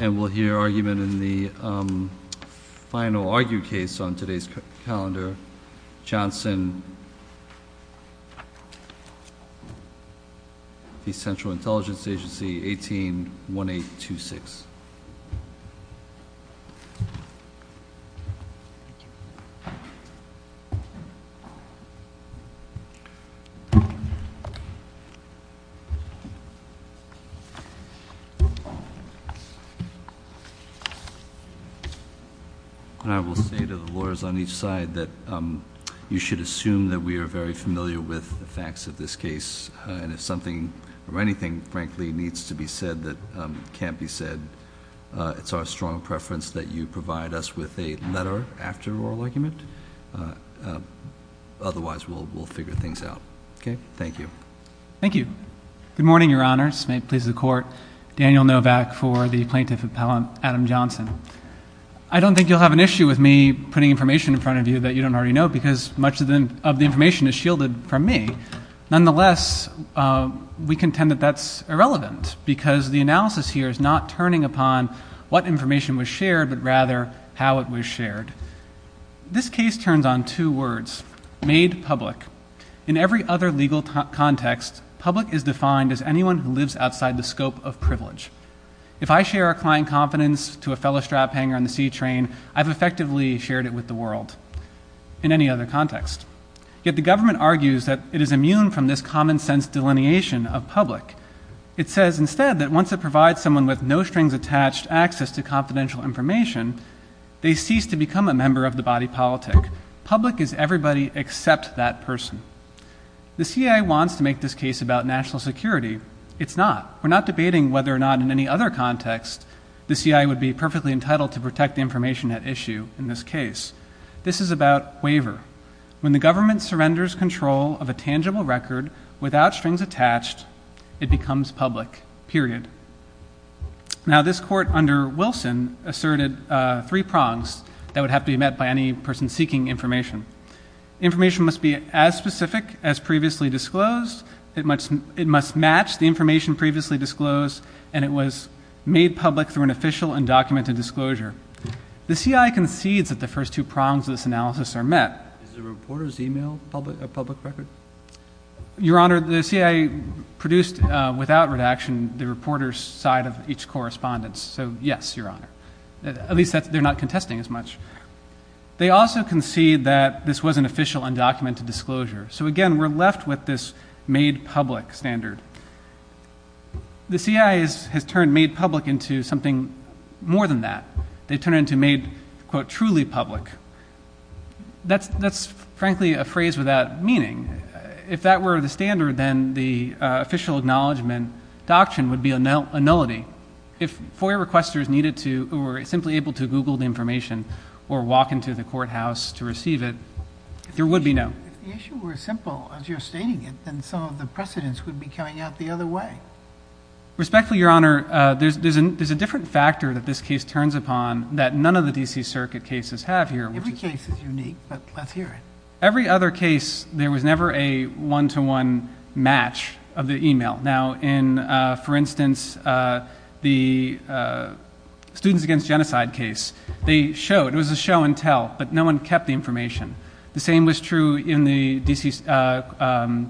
And we'll hear argument in the final argued case on today's calendar, Johnson v. Central And I will say to the lawyers on each side that you should assume that we are very familiar with the facts of this case, and if something or anything frankly needs to be said that can't be said, it's our strong preference that you provide us with a letter after oral argument, otherwise we'll figure things out. Okay? Thank you. Thank you. Good morning, your honors. May it please the court. Daniel Novak for the plaintiff appellant, Adam Johnson. I don't think you'll have an issue with me putting information in front of you that you don't already know because much of the information is shielded from me. Nonetheless, we contend that that's irrelevant because the analysis here is not turning upon what information was shared, but rather how it was shared. This case turns on two words. Made public. In every other legal context, public is defined as anyone who lives outside the scope of privilege. If I share a client confidence to a fellow strap hanger on the C train, I've effectively shared it with the world in any other context. Yet the government argues that it is immune from this common sense delineation of public. It says instead that once it provides someone with no strings attached access to confidential information, they cease to become a member of the body politic. Public is everybody except that person. The CIA wants to make this case about national security. It's not. We're not debating whether or not in any other context the CIA would be perfectly entitled to protect the information at issue in this case. This is about waiver. When the government surrenders control of a tangible record without strings attached, it becomes public. Period. Now this court under Wilson asserted three prongs that would have to be met by any person seeking information. Information must be as specific as previously disclosed. It must match the information previously disclosed, and it was made public through an official and documented disclosure. The CIA concedes that the first two prongs of this analysis are met. Is the reporter's email a public record? Your Honor, the CIA produced without redaction the reporter's side of each correspondence. So yes, Your Honor. At least they're not contesting as much. They also concede that this was an official and documented disclosure. So again, we're left with this made public standard. The CIA has turned made public into something more than that. They've turned it into made, quote, truly public. That's frankly a phrase without meaning. If that were the standard, then the official acknowledgment doctrine would be a nullity. If FOIA requesters needed to or were simply able to Google the information or walk into the courthouse to receive it, there would be no. If the issue were as simple as you're stating it, then some of the precedents would be coming out the other way. Respectfully, Your Honor, there's a different factor that this case turns upon that none of the D.C. Circuit cases have here. Every case is unique, but let's hear it. Every other case, there was never a one-to-one match of the email. Now, in, for instance, the Students Against Genocide case, they showed, it was a show and tell, but no one kept the information. The same was true in the D.C.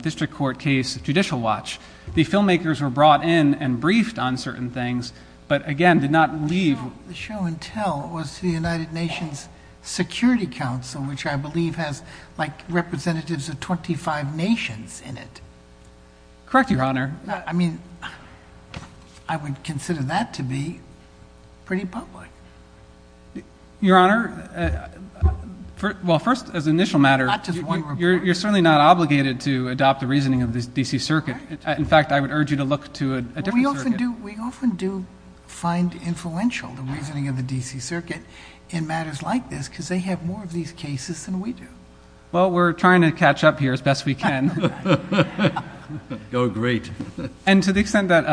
District Court case, Judicial Watch. The filmmakers were brought in and briefed on certain things, but, again, did not leave. The show and tell was the United Nations Security Council, which I believe has, like, representatives of 25 nations in it. Correct, Your Honor. I mean, I would consider that to be pretty public. Your Honor, well, first, as an initial matter, you're certainly not obligated to adopt the reasoning of the D.C. Circuit. In fact, I would urge you to look to a different circuit. We often do find influential the reasoning of the D.C. Circuit in matters like this because they have more of these cases than we do. Well, we're trying to catch up here as best we can. Oh, great. And to the extent that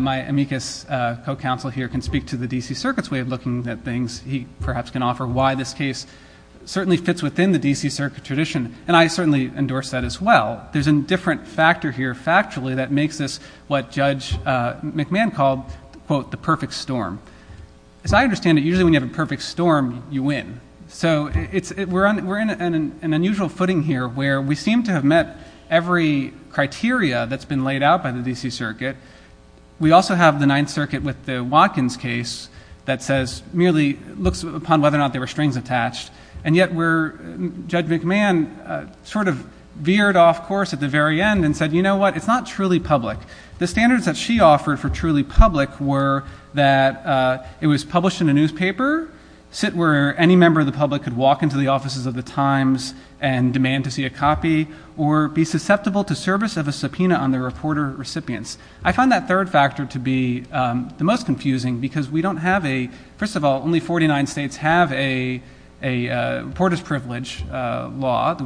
my amicus co-counsel here can speak to the D.C. Circuit's way of looking at things, he perhaps can offer why this case certainly fits within the D.C. Circuit tradition, and I certainly endorse that as well. There's a different factor here, factually, that makes this what Judge McMahon called, quote, the perfect storm. As I understand it, usually when you have a perfect storm, you win. So we're in an unusual footing here where we seem to have met every criteria that's been laid out by the D.C. Circuit. We also have the Ninth Circuit with the Watkins case that merely looks upon whether or not there were strings attached, and yet where Judge McMahon sort of veered off course at the very end and said, you know what, it's not truly public. The standards that she offered for truly public were that it was published in a newspaper, sit where any member of the public could walk into the offices of the Times and demand to see a copy, or be susceptible to service of a subpoena on the reporter recipients. I find that third factor to be the most confusing because we don't have a, first of all, only 49 states have a reporter's privilege law.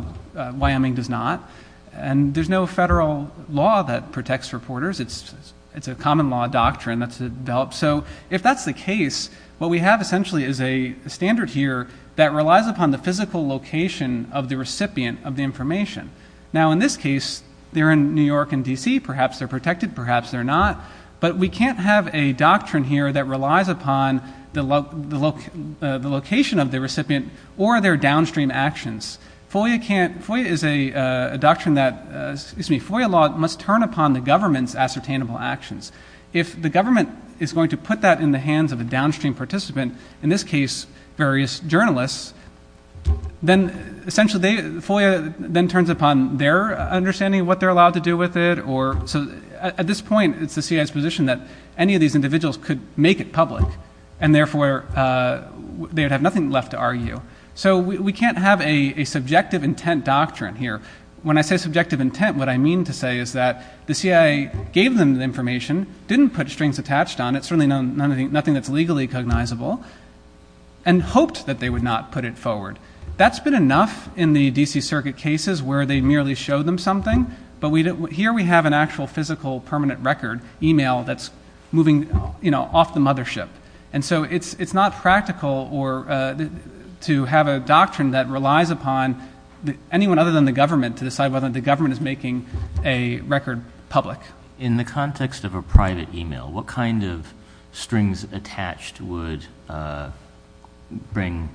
Wyoming does not. And there's no federal law that protects reporters. It's a common law doctrine that's developed. So if that's the case, what we have essentially is a standard here that relies upon the physical location of the recipient of the information. Now, in this case, they're in New York and D.C. Perhaps they're protected, perhaps they're not. But we can't have a doctrine here that relies upon the location of the recipient or their downstream actions. FOIA is a doctrine that, excuse me, FOIA law must turn upon the government's ascertainable actions. If the government is going to put that in the hands of a downstream participant, in this case, various journalists, then essentially FOIA then turns upon their understanding of what they're allowed to do with it. So at this point, it's the CIA's position that any of these individuals could make it public, So we can't have a subjective intent doctrine here. When I say subjective intent, what I mean to say is that the CIA gave them the information, didn't put strings attached on it, certainly nothing that's legally cognizable, and hoped that they would not put it forward. That's been enough in the D.C. Circuit cases where they merely showed them something, but here we have an actual physical permanent record email that's moving off the mothership. And so it's not practical to have a doctrine that relies upon anyone other than the government to decide whether the government is making a record public. In the context of a private email, what kind of strings attached would, according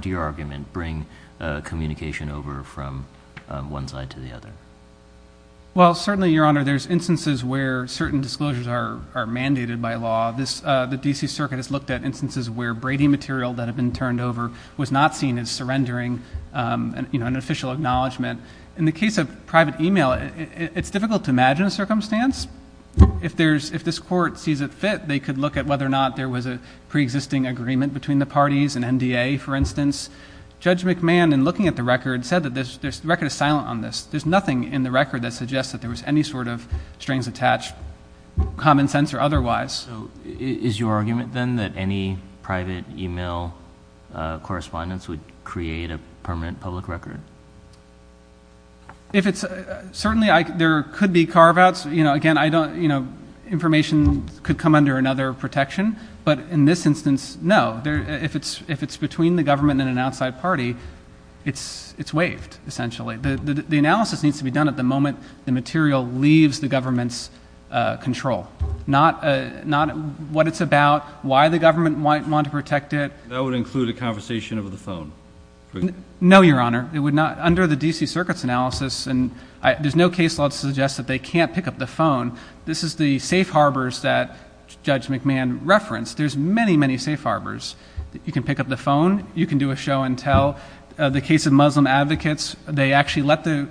to your argument, bring communication over from one side to the other? Well, certainly, Your Honor, there's instances where certain disclosures are mandated by law. The D.C. Circuit has looked at instances where Brady material that had been turned over was not seen as surrendering an official acknowledgment. In the case of private email, it's difficult to imagine a circumstance. If this court sees it fit, they could look at whether or not there was a preexisting agreement between the parties, an NDA, for instance. Judge McMahon, in looking at the record, said that the record is silent on this. There's nothing in the record that suggests that there was any sort of strings attached, common sense or otherwise. So is your argument, then, that any private email correspondence would create a permanent public record? Certainly there could be carve-outs. Again, information could come under another protection. But in this instance, no. If it's between the government and an outside party, it's waived, essentially. The analysis needs to be done at the moment the material leaves the government's control, not what it's about, why the government might want to protect it. That would include a conversation over the phone? No, Your Honor. Under the D.C. Circuit's analysis, there's no case law that suggests that they can't pick up the phone. This is the safe harbors that Judge McMahon referenced. There's many, many safe harbors. You can pick up the phone. You can do a show and tell. The case of Muslim advocates, they actually let the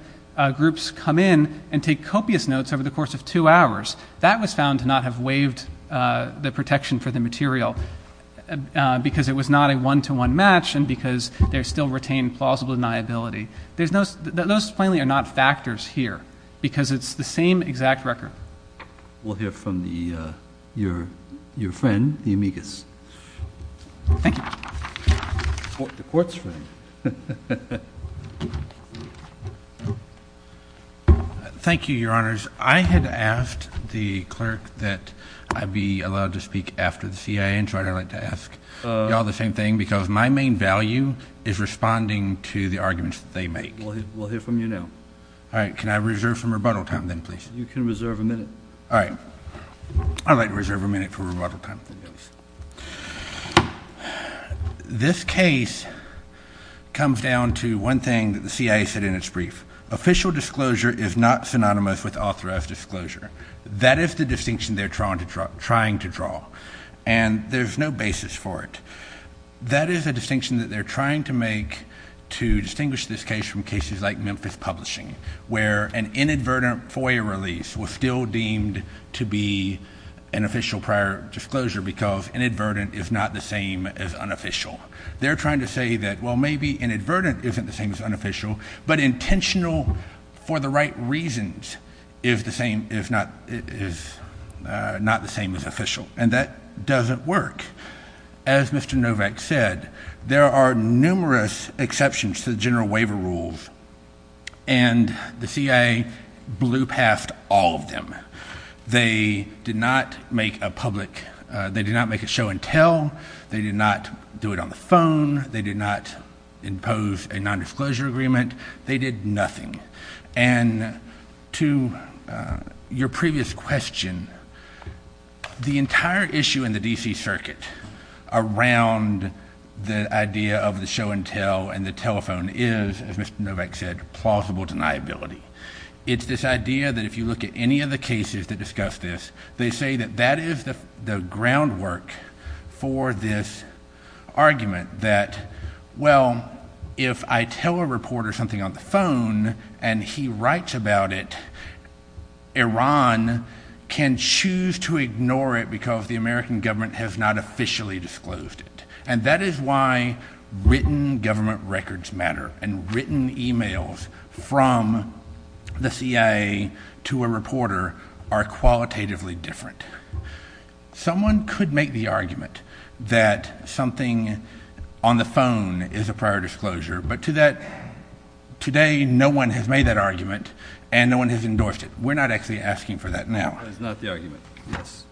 groups come in and take copious notes over the course of two hours. That was found to not have waived the protection for the material because it was not a one-to-one match and because there's still retained plausible deniability. Those plainly are not factors here because it's the same exact record. We'll hear from your friend, the amicus. Thank you. The court's room. Thank you, Your Honors. I had asked the clerk that I be allowed to speak after the CIA, and so I'd like to ask you all the same thing because my main value is responding to the arguments that they make. We'll hear from you now. All right. Can I reserve some rebuttal time then, please? You can reserve a minute. All right. I'd like to reserve a minute for rebuttal time. This case comes down to one thing that the CIA said in its brief. Official disclosure is not synonymous with authorized disclosure. That is the distinction they're trying to draw, and there's no basis for it. That is a distinction that they're trying to make to distinguish this case from cases like Memphis Publishing where an inadvertent FOIA release was still deemed to be an official prior disclosure because inadvertent is not the same as unofficial. They're trying to say that, well, maybe inadvertent isn't the same as unofficial, but intentional for the right reasons is not the same as official, and that doesn't work. As Mr. Novak said, there are numerous exceptions to the general waiver rules, and the CIA blew past all of them. They did not make a show-and-tell. They did not do it on the phone. They did not impose a nondisclosure agreement. They did nothing. And to your previous question, the entire issue in the D.C. Circuit around the idea of the show-and-tell and the telephone is, as Mr. Novak said, plausible deniability. It's this idea that if you look at any of the cases that discuss this, they say that that is the groundwork for this argument that, well, if I tell a reporter something on the phone and he writes about it, Iran can choose to ignore it because the American government has not officially disclosed it, and that is why written government records matter and written e-mails from the CIA to a reporter are qualitatively different. Someone could make the argument that something on the phone is a prior disclosure, but to that today no one has made that argument and no one has endorsed it. We're not actually asking for that now. That is not the argument, yes.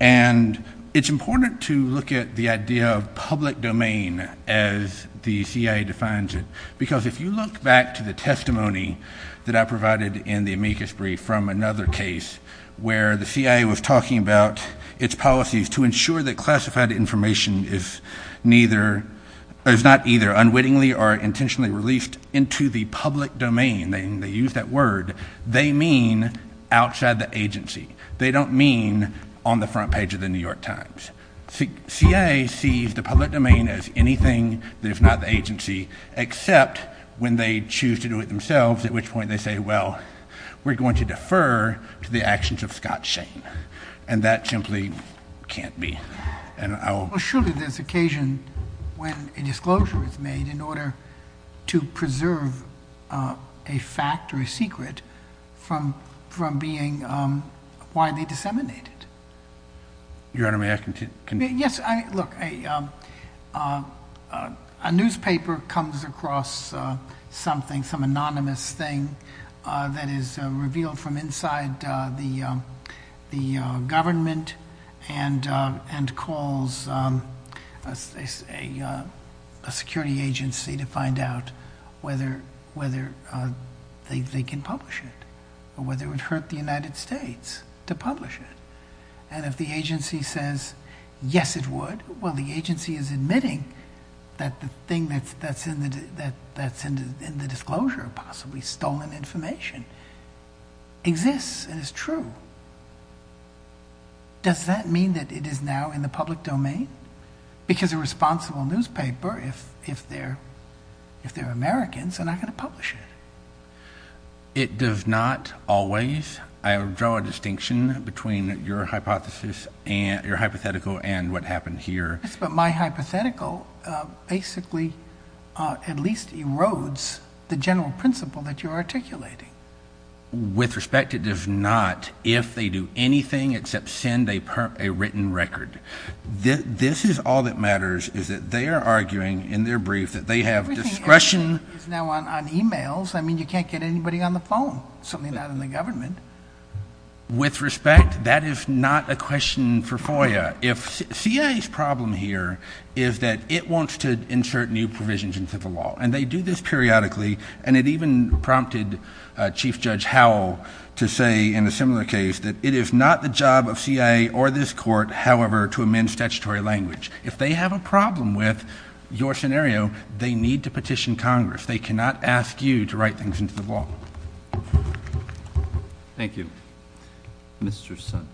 And it's important to look at the idea of public domain as the CIA defines it, because if you look back to the testimony that I provided in the amicus brief from another case where the CIA was talking about its policies to ensure that classified information is not either unwittingly or intentionally released into the public domain, they use that word, they mean outside the agency. They don't mean on the front page of the New York Times. The CIA sees the public domain as anything that is not the agency, except when they choose to do it themselves, at which point they say, well, we're going to defer to the actions of Scott Shane, and that simply can't be. Well, surely there's occasion when a disclosure is made in order to preserve a fact or a secret from being widely disseminated. Your Honor, may I continue? Yes. Look, a newspaper comes across something, some anonymous thing, that is revealed from inside the government and calls a security agency to find out whether they can publish it or whether it would hurt the United States to publish it. And if the agency says, yes, it would, well, the agency is admitting that the thing that's in the disclosure, possibly stolen information, exists and is true. Does that mean that it is now in the public domain? Because a responsible newspaper, if they're Americans, are not going to publish it. It does not always. I draw a distinction between your hypothesis and your hypothetical and what happened here. But my hypothetical basically at least erodes the general principle that you're articulating. With respect, it does not, if they do anything except send a written record. This is all that matters is that they are arguing in their brief that they have discretion. Everything is now on e-mails. I mean, you can't get anybody on the phone, certainly not in the government. With respect, that is not a question for FOIA. If CIA's problem here is that it wants to insert new provisions into the law, and they do this periodically, and it even prompted Chief Judge Howell to say in a similar case that it is not the job of CIA or this court, however, to amend statutory language. If they have a problem with your scenario, they need to petition Congress. If they cannot, ask you to write things into the law. Thank you. Mr. Sun.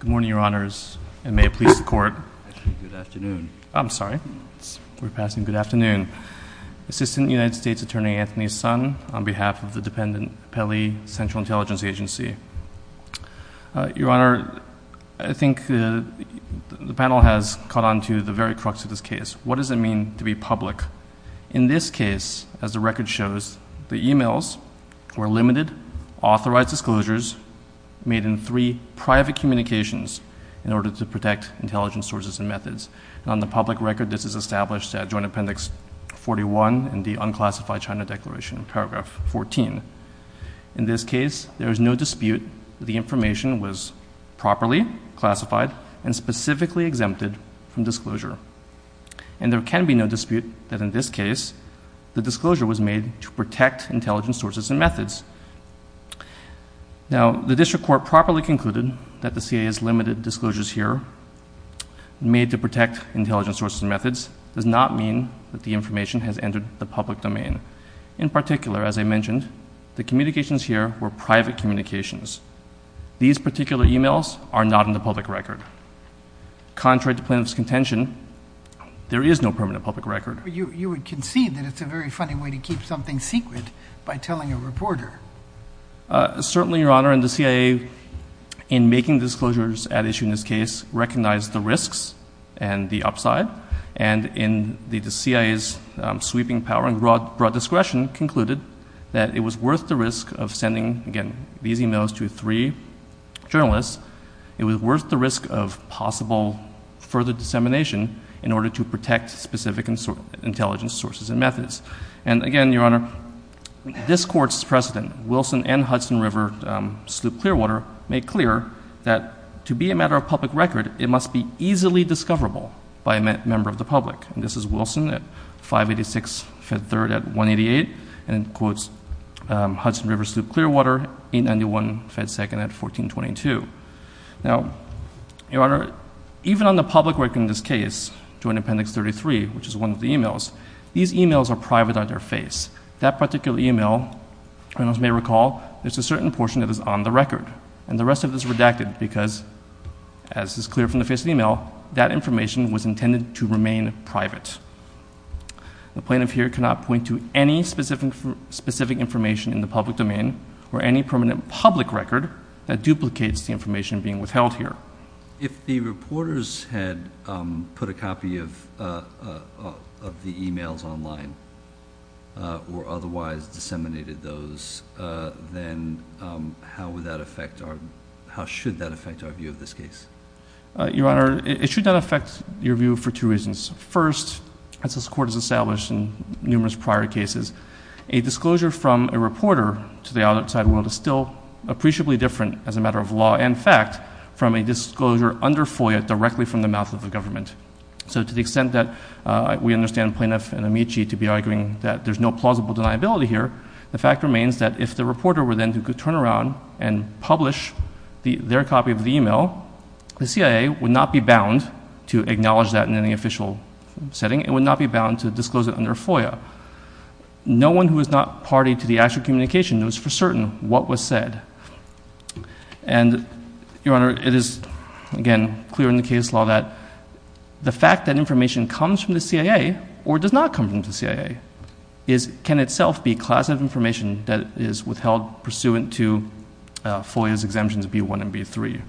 Good morning, Your Honors, and may it please the Court. Actually, good afternoon. I'm sorry. We're passing good afternoon. Assistant United States Attorney Anthony Sun on behalf of the dependent Pele Central Intelligence Agency. Your Honor, I think the panel has caught on to the very crux of this case. What does it mean to be public? In this case, as the record shows, the e-mails were limited, authorized disclosures, made in three private communications in order to protect intelligence sources and methods. On the public record, this is established at Joint Appendix 41 in the Unclassified China Declaration, paragraph 14. In this case, there is no dispute that the information was properly classified and specifically exempted from disclosure. And there can be no dispute that in this case, the disclosure was made to protect intelligence sources and methods. Now, the district court properly concluded that the CIA's limited disclosures here, made to protect intelligence sources and methods, does not mean that the information has entered the public domain. In particular, as I mentioned, the communications here were private communications. These particular e-mails are not in the public record. Contrary to plaintiff's contention, there is no permanent public record. You would concede that it's a very funny way to keep something secret by telling a reporter. Certainly, Your Honor, and the CIA, in making disclosures at issue in this case, recognized the risks and the upside. And in the CIA's sweeping power and broad discretion, concluded that it was worth the risk of sending, again, these e-mails to three journalists. It was worth the risk of possible further dissemination in order to protect specific intelligence sources and methods. And again, Your Honor, this Court's precedent, Wilson and Hudson River Sloop Clearwater, made clear that to be a matter of public record, it must be easily discoverable by a member of the public. And this is Wilson at 586 Ft. 3rd at 188, and quotes Hudson River Sloop Clearwater, 891 Ft. 2nd at 1422. Now, Your Honor, even on the public record in this case, Joint Appendix 33, which is one of the e-mails, these e-mails are private on their face. That particular e-mail, you may recall, there's a certain portion that is on the record. And the rest of it is redacted because, as is clear from the face of the e-mail, that information was intended to remain private. The plaintiff here cannot point to any specific information in the public domain or any permanent public record that duplicates the information being withheld here. If the reporters had put a copy of the e-mails online or otherwise disseminated those, then how would that affect or how should that affect our view of this case? Your Honor, it should not affect your view for two reasons. First, as this Court has established in numerous prior cases, a disclosure from a reporter to the outside world is still appreciably different, as a matter of law and fact, from a disclosure under FOIA directly from the mouth of the government. So to the extent that we understand Plaintiff and Amici to be arguing that there's no plausible deniability here, the fact remains that if the reporter were then to turn around and publish their copy of the e-mail, the CIA would not be bound to acknowledge that in any official setting. It would not be bound to disclose it under FOIA. No one who is not party to the actual communication knows for certain what was said. And, Your Honor, it is, again, clear in the case law that the fact that information comes from the CIA or does not come from the CIA can itself be a class of information that is withheld pursuant to FOIA's exemptions B-1 and B-3.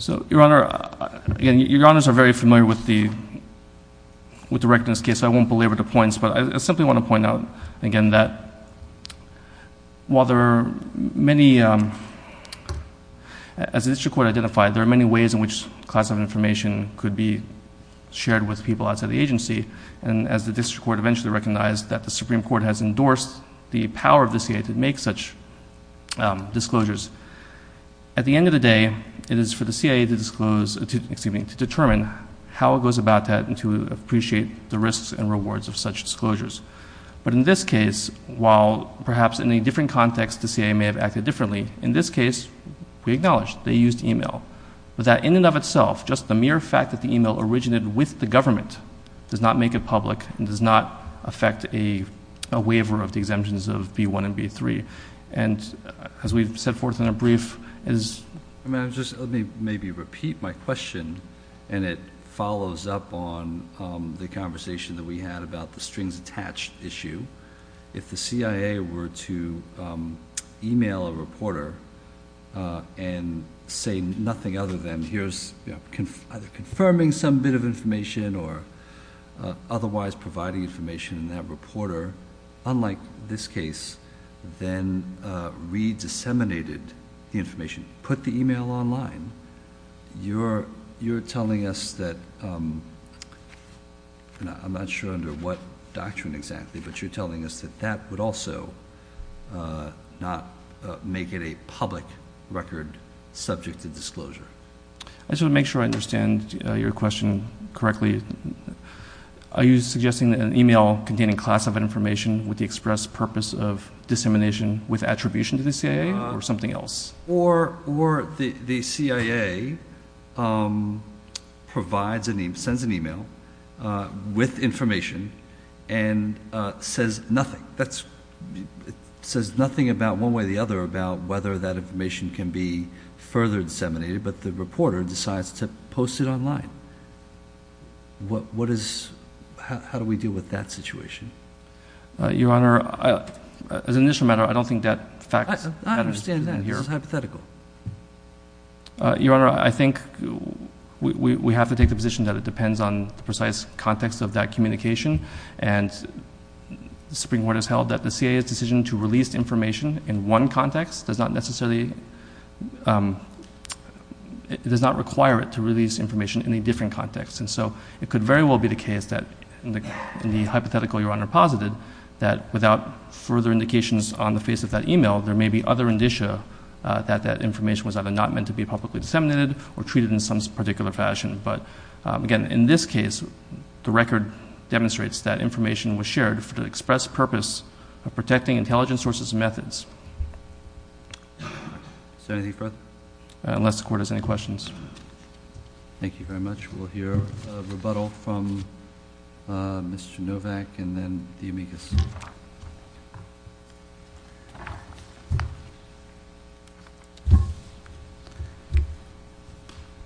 So, Your Honor, again, Your Honors are very familiar with the wreckedness case, so I won't belabor the points, but I simply want to point out again that while there are many, as the district court identified, there are many ways in which a class of information could be shared with people outside the agency. And as the district court eventually recognized that the Supreme Court has endorsed the power of the CIA to make such disclosures, at the end of the day, it is for the CIA to disclose, excuse me, to determine how it goes about that and to appreciate the risks and rewards of such disclosures. But in this case, while perhaps in a different context, the CIA may have acted differently, in this case, we acknowledge they used email. But that in and of itself, just the mere fact that the email originated with the government does not make it public and does not affect a waiver of the exemptions of B-1 and B-3. And as we've set forth in a brief, as — Let me maybe repeat my question, and it follows up on the conversation that we had about the strings attached issue. If the CIA were to email a reporter and say nothing other than, here's either confirming some bit of information or otherwise providing information, and that reporter, unlike this case, then re-disseminated the information, put the email online, you're telling us that, I'm not sure under what doctrine exactly, but you're telling us that that would also not make it a public record subject to disclosure. I just want to make sure I understand your question correctly. Are you suggesting that an email containing classified information with the express purpose of dissemination with attribution to the CIA, or something else? Or the CIA sends an email with information and says nothing. It says nothing about one way or the other about whether that information can be further disseminated, but the reporter decides to post it online. What is — how do we deal with that situation? Your Honor, as an initial matter, I don't think that facts — I understand that. This is hypothetical. Your Honor, I think we have to take the position that it depends on the precise context of that communication, and the Supreme Court has held that the CIA's decision to release information in one context does not necessarily — it does not require it to release information in a different context. And so it could very well be the case that in the hypothetical Your Honor posited, that without further indications on the face of that email, there may be other indicia that that information was either not meant to be publicly disseminated or treated in some particular fashion. But again, in this case, the record demonstrates that information was shared for the express purpose of protecting intelligence sources' methods. Is there anything further? Unless the Court has any questions. Thank you very much. We'll hear a rebuttal from Mr. Novak and then the amicus.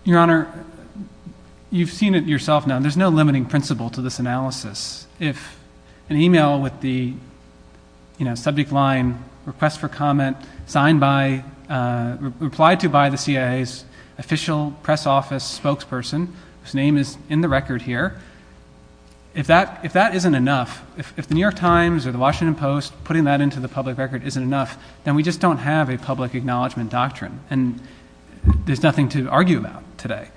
Your Honor, you've seen it yourself now. There's no limiting principle to this analysis. If an email with the subject line, request for comment, signed by, replied to by the CIA's official press office spokesperson, whose name is in the record here, if that isn't enough, if the New York Times or the Washington Post putting that into the public record isn't enough, then we just don't have a public acknowledgment doctrine. And there's nothing to argue about today.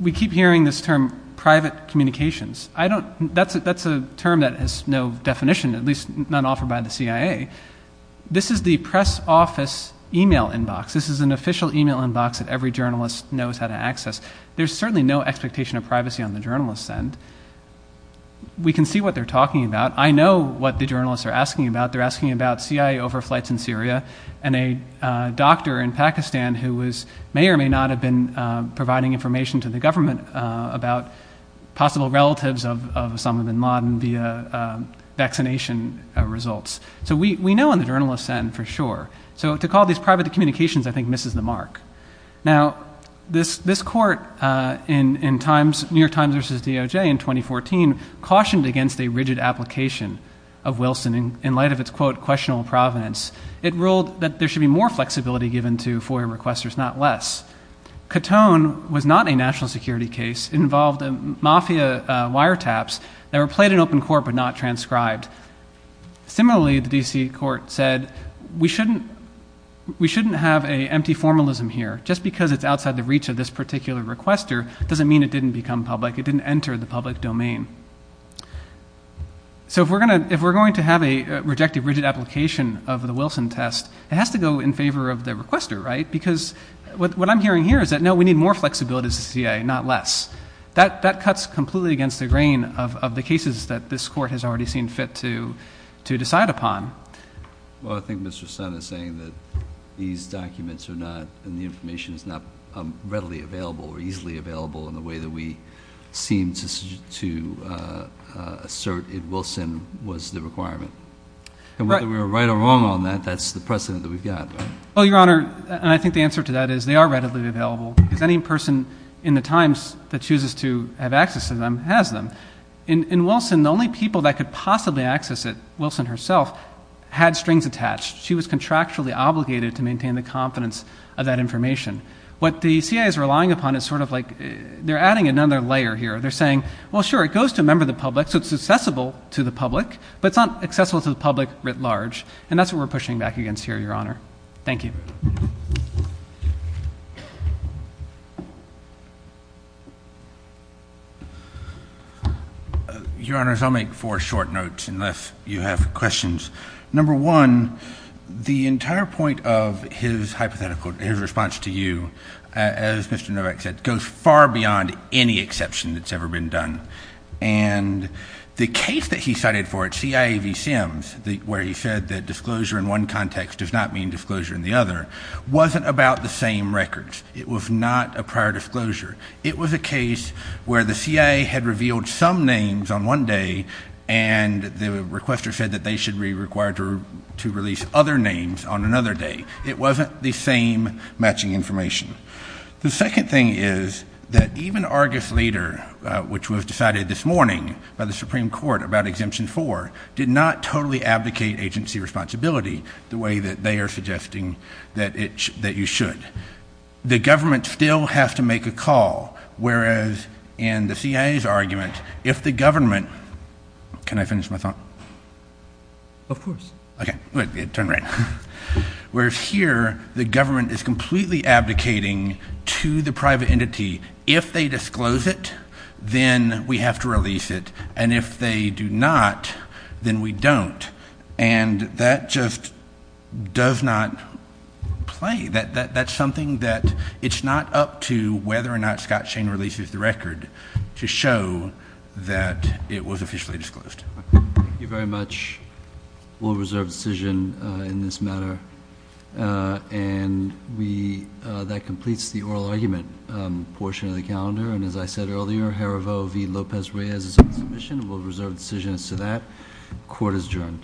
We keep hearing this term private communications. That's a term that has no definition, at least not offered by the CIA. This is the press office email inbox. This is an official email inbox that every journalist knows how to access. There's certainly no expectation of privacy on the journalist's end. We can see what they're talking about. I know what the journalists are asking about. They're asking about CIA overflights in Syria and a doctor in Pakistan who may or may not have been providing information to the government about possible relatives of Osama bin Laden via vaccination results. So we know on the journalist's end for sure. So to call this private communications I think misses the mark. Now, this court in New York Times versus DOJ in 2014 cautioned against a rigid application of Wilson. In light of its, quote, questionable provenance, it ruled that there should be more flexibility given to FOIA requesters, not less. Cotone was not a national security case. It involved mafia wiretaps that were played in open court but not transcribed. Similarly, the D.C. court said we shouldn't have an empty formalism here. Just because it's outside the reach of this particular requester doesn't mean it didn't become public. It didn't enter the public domain. So if we're going to have a rejected rigid application of the Wilson test, it has to go in favor of the requester, right? Because what I'm hearing here is that, no, we need more flexibility as a CIA, not less. That cuts completely against the grain of the cases that this court has already seen fit to decide upon. Well, I think Mr. Sun is saying that these documents are not and the information is not readily available or easily available in the way that we seem to assert that Wilson was the requirement. And whether we're right or wrong on that, that's the precedent that we've got. Well, Your Honor, and I think the answer to that is they are readily available. Because any person in The Times that chooses to have access to them has them. In Wilson, the only people that could possibly access it, Wilson herself, had strings attached. She was contractually obligated to maintain the confidence of that information. What the CIA is relying upon is sort of like they're adding another layer here. They're saying, well, sure, it goes to a member of the public, so it's accessible to the public, but it's not accessible to the public writ large, and that's what we're pushing back against here, Your Honor. Thank you. Your Honors, I'll make four short notes unless you have questions. Number one, the entire point of his hypothetical, his response to you, as Mr. Novak said, goes far beyond any exception that's ever been done. And the case that he cited for it, CIA v. Sims, where he said that disclosure in one context does not mean disclosure in the other, wasn't about the same records. It was not a prior disclosure. It was a case where the CIA had revealed some names on one day, and the requester said that they should be required to release other names on another day. It wasn't the same matching information. The second thing is that even Argus later, which was decided this morning by the Supreme Court about Exemption 4, did not totally abdicate agency responsibility the way that they are suggesting that you should. The government still has to make a call, whereas in the CIA's argument, if the government, can I finish my thought? Of course. Okay. Turn around. Whereas here, the government is completely abdicating to the private entity, if they disclose it, then we have to release it, and if they do not, then we don't. And that just does not play. That's something that it's not up to whether or not Scott Shane releases the record to show that it was officially disclosed. Thank you very much. We'll reserve decision in this matter. And that completes the oral argument portion of the calendar. And as I said earlier, Jarevo v. Lopez-Reyes is on submission. We'll reserve decision as to that. Court is adjourned.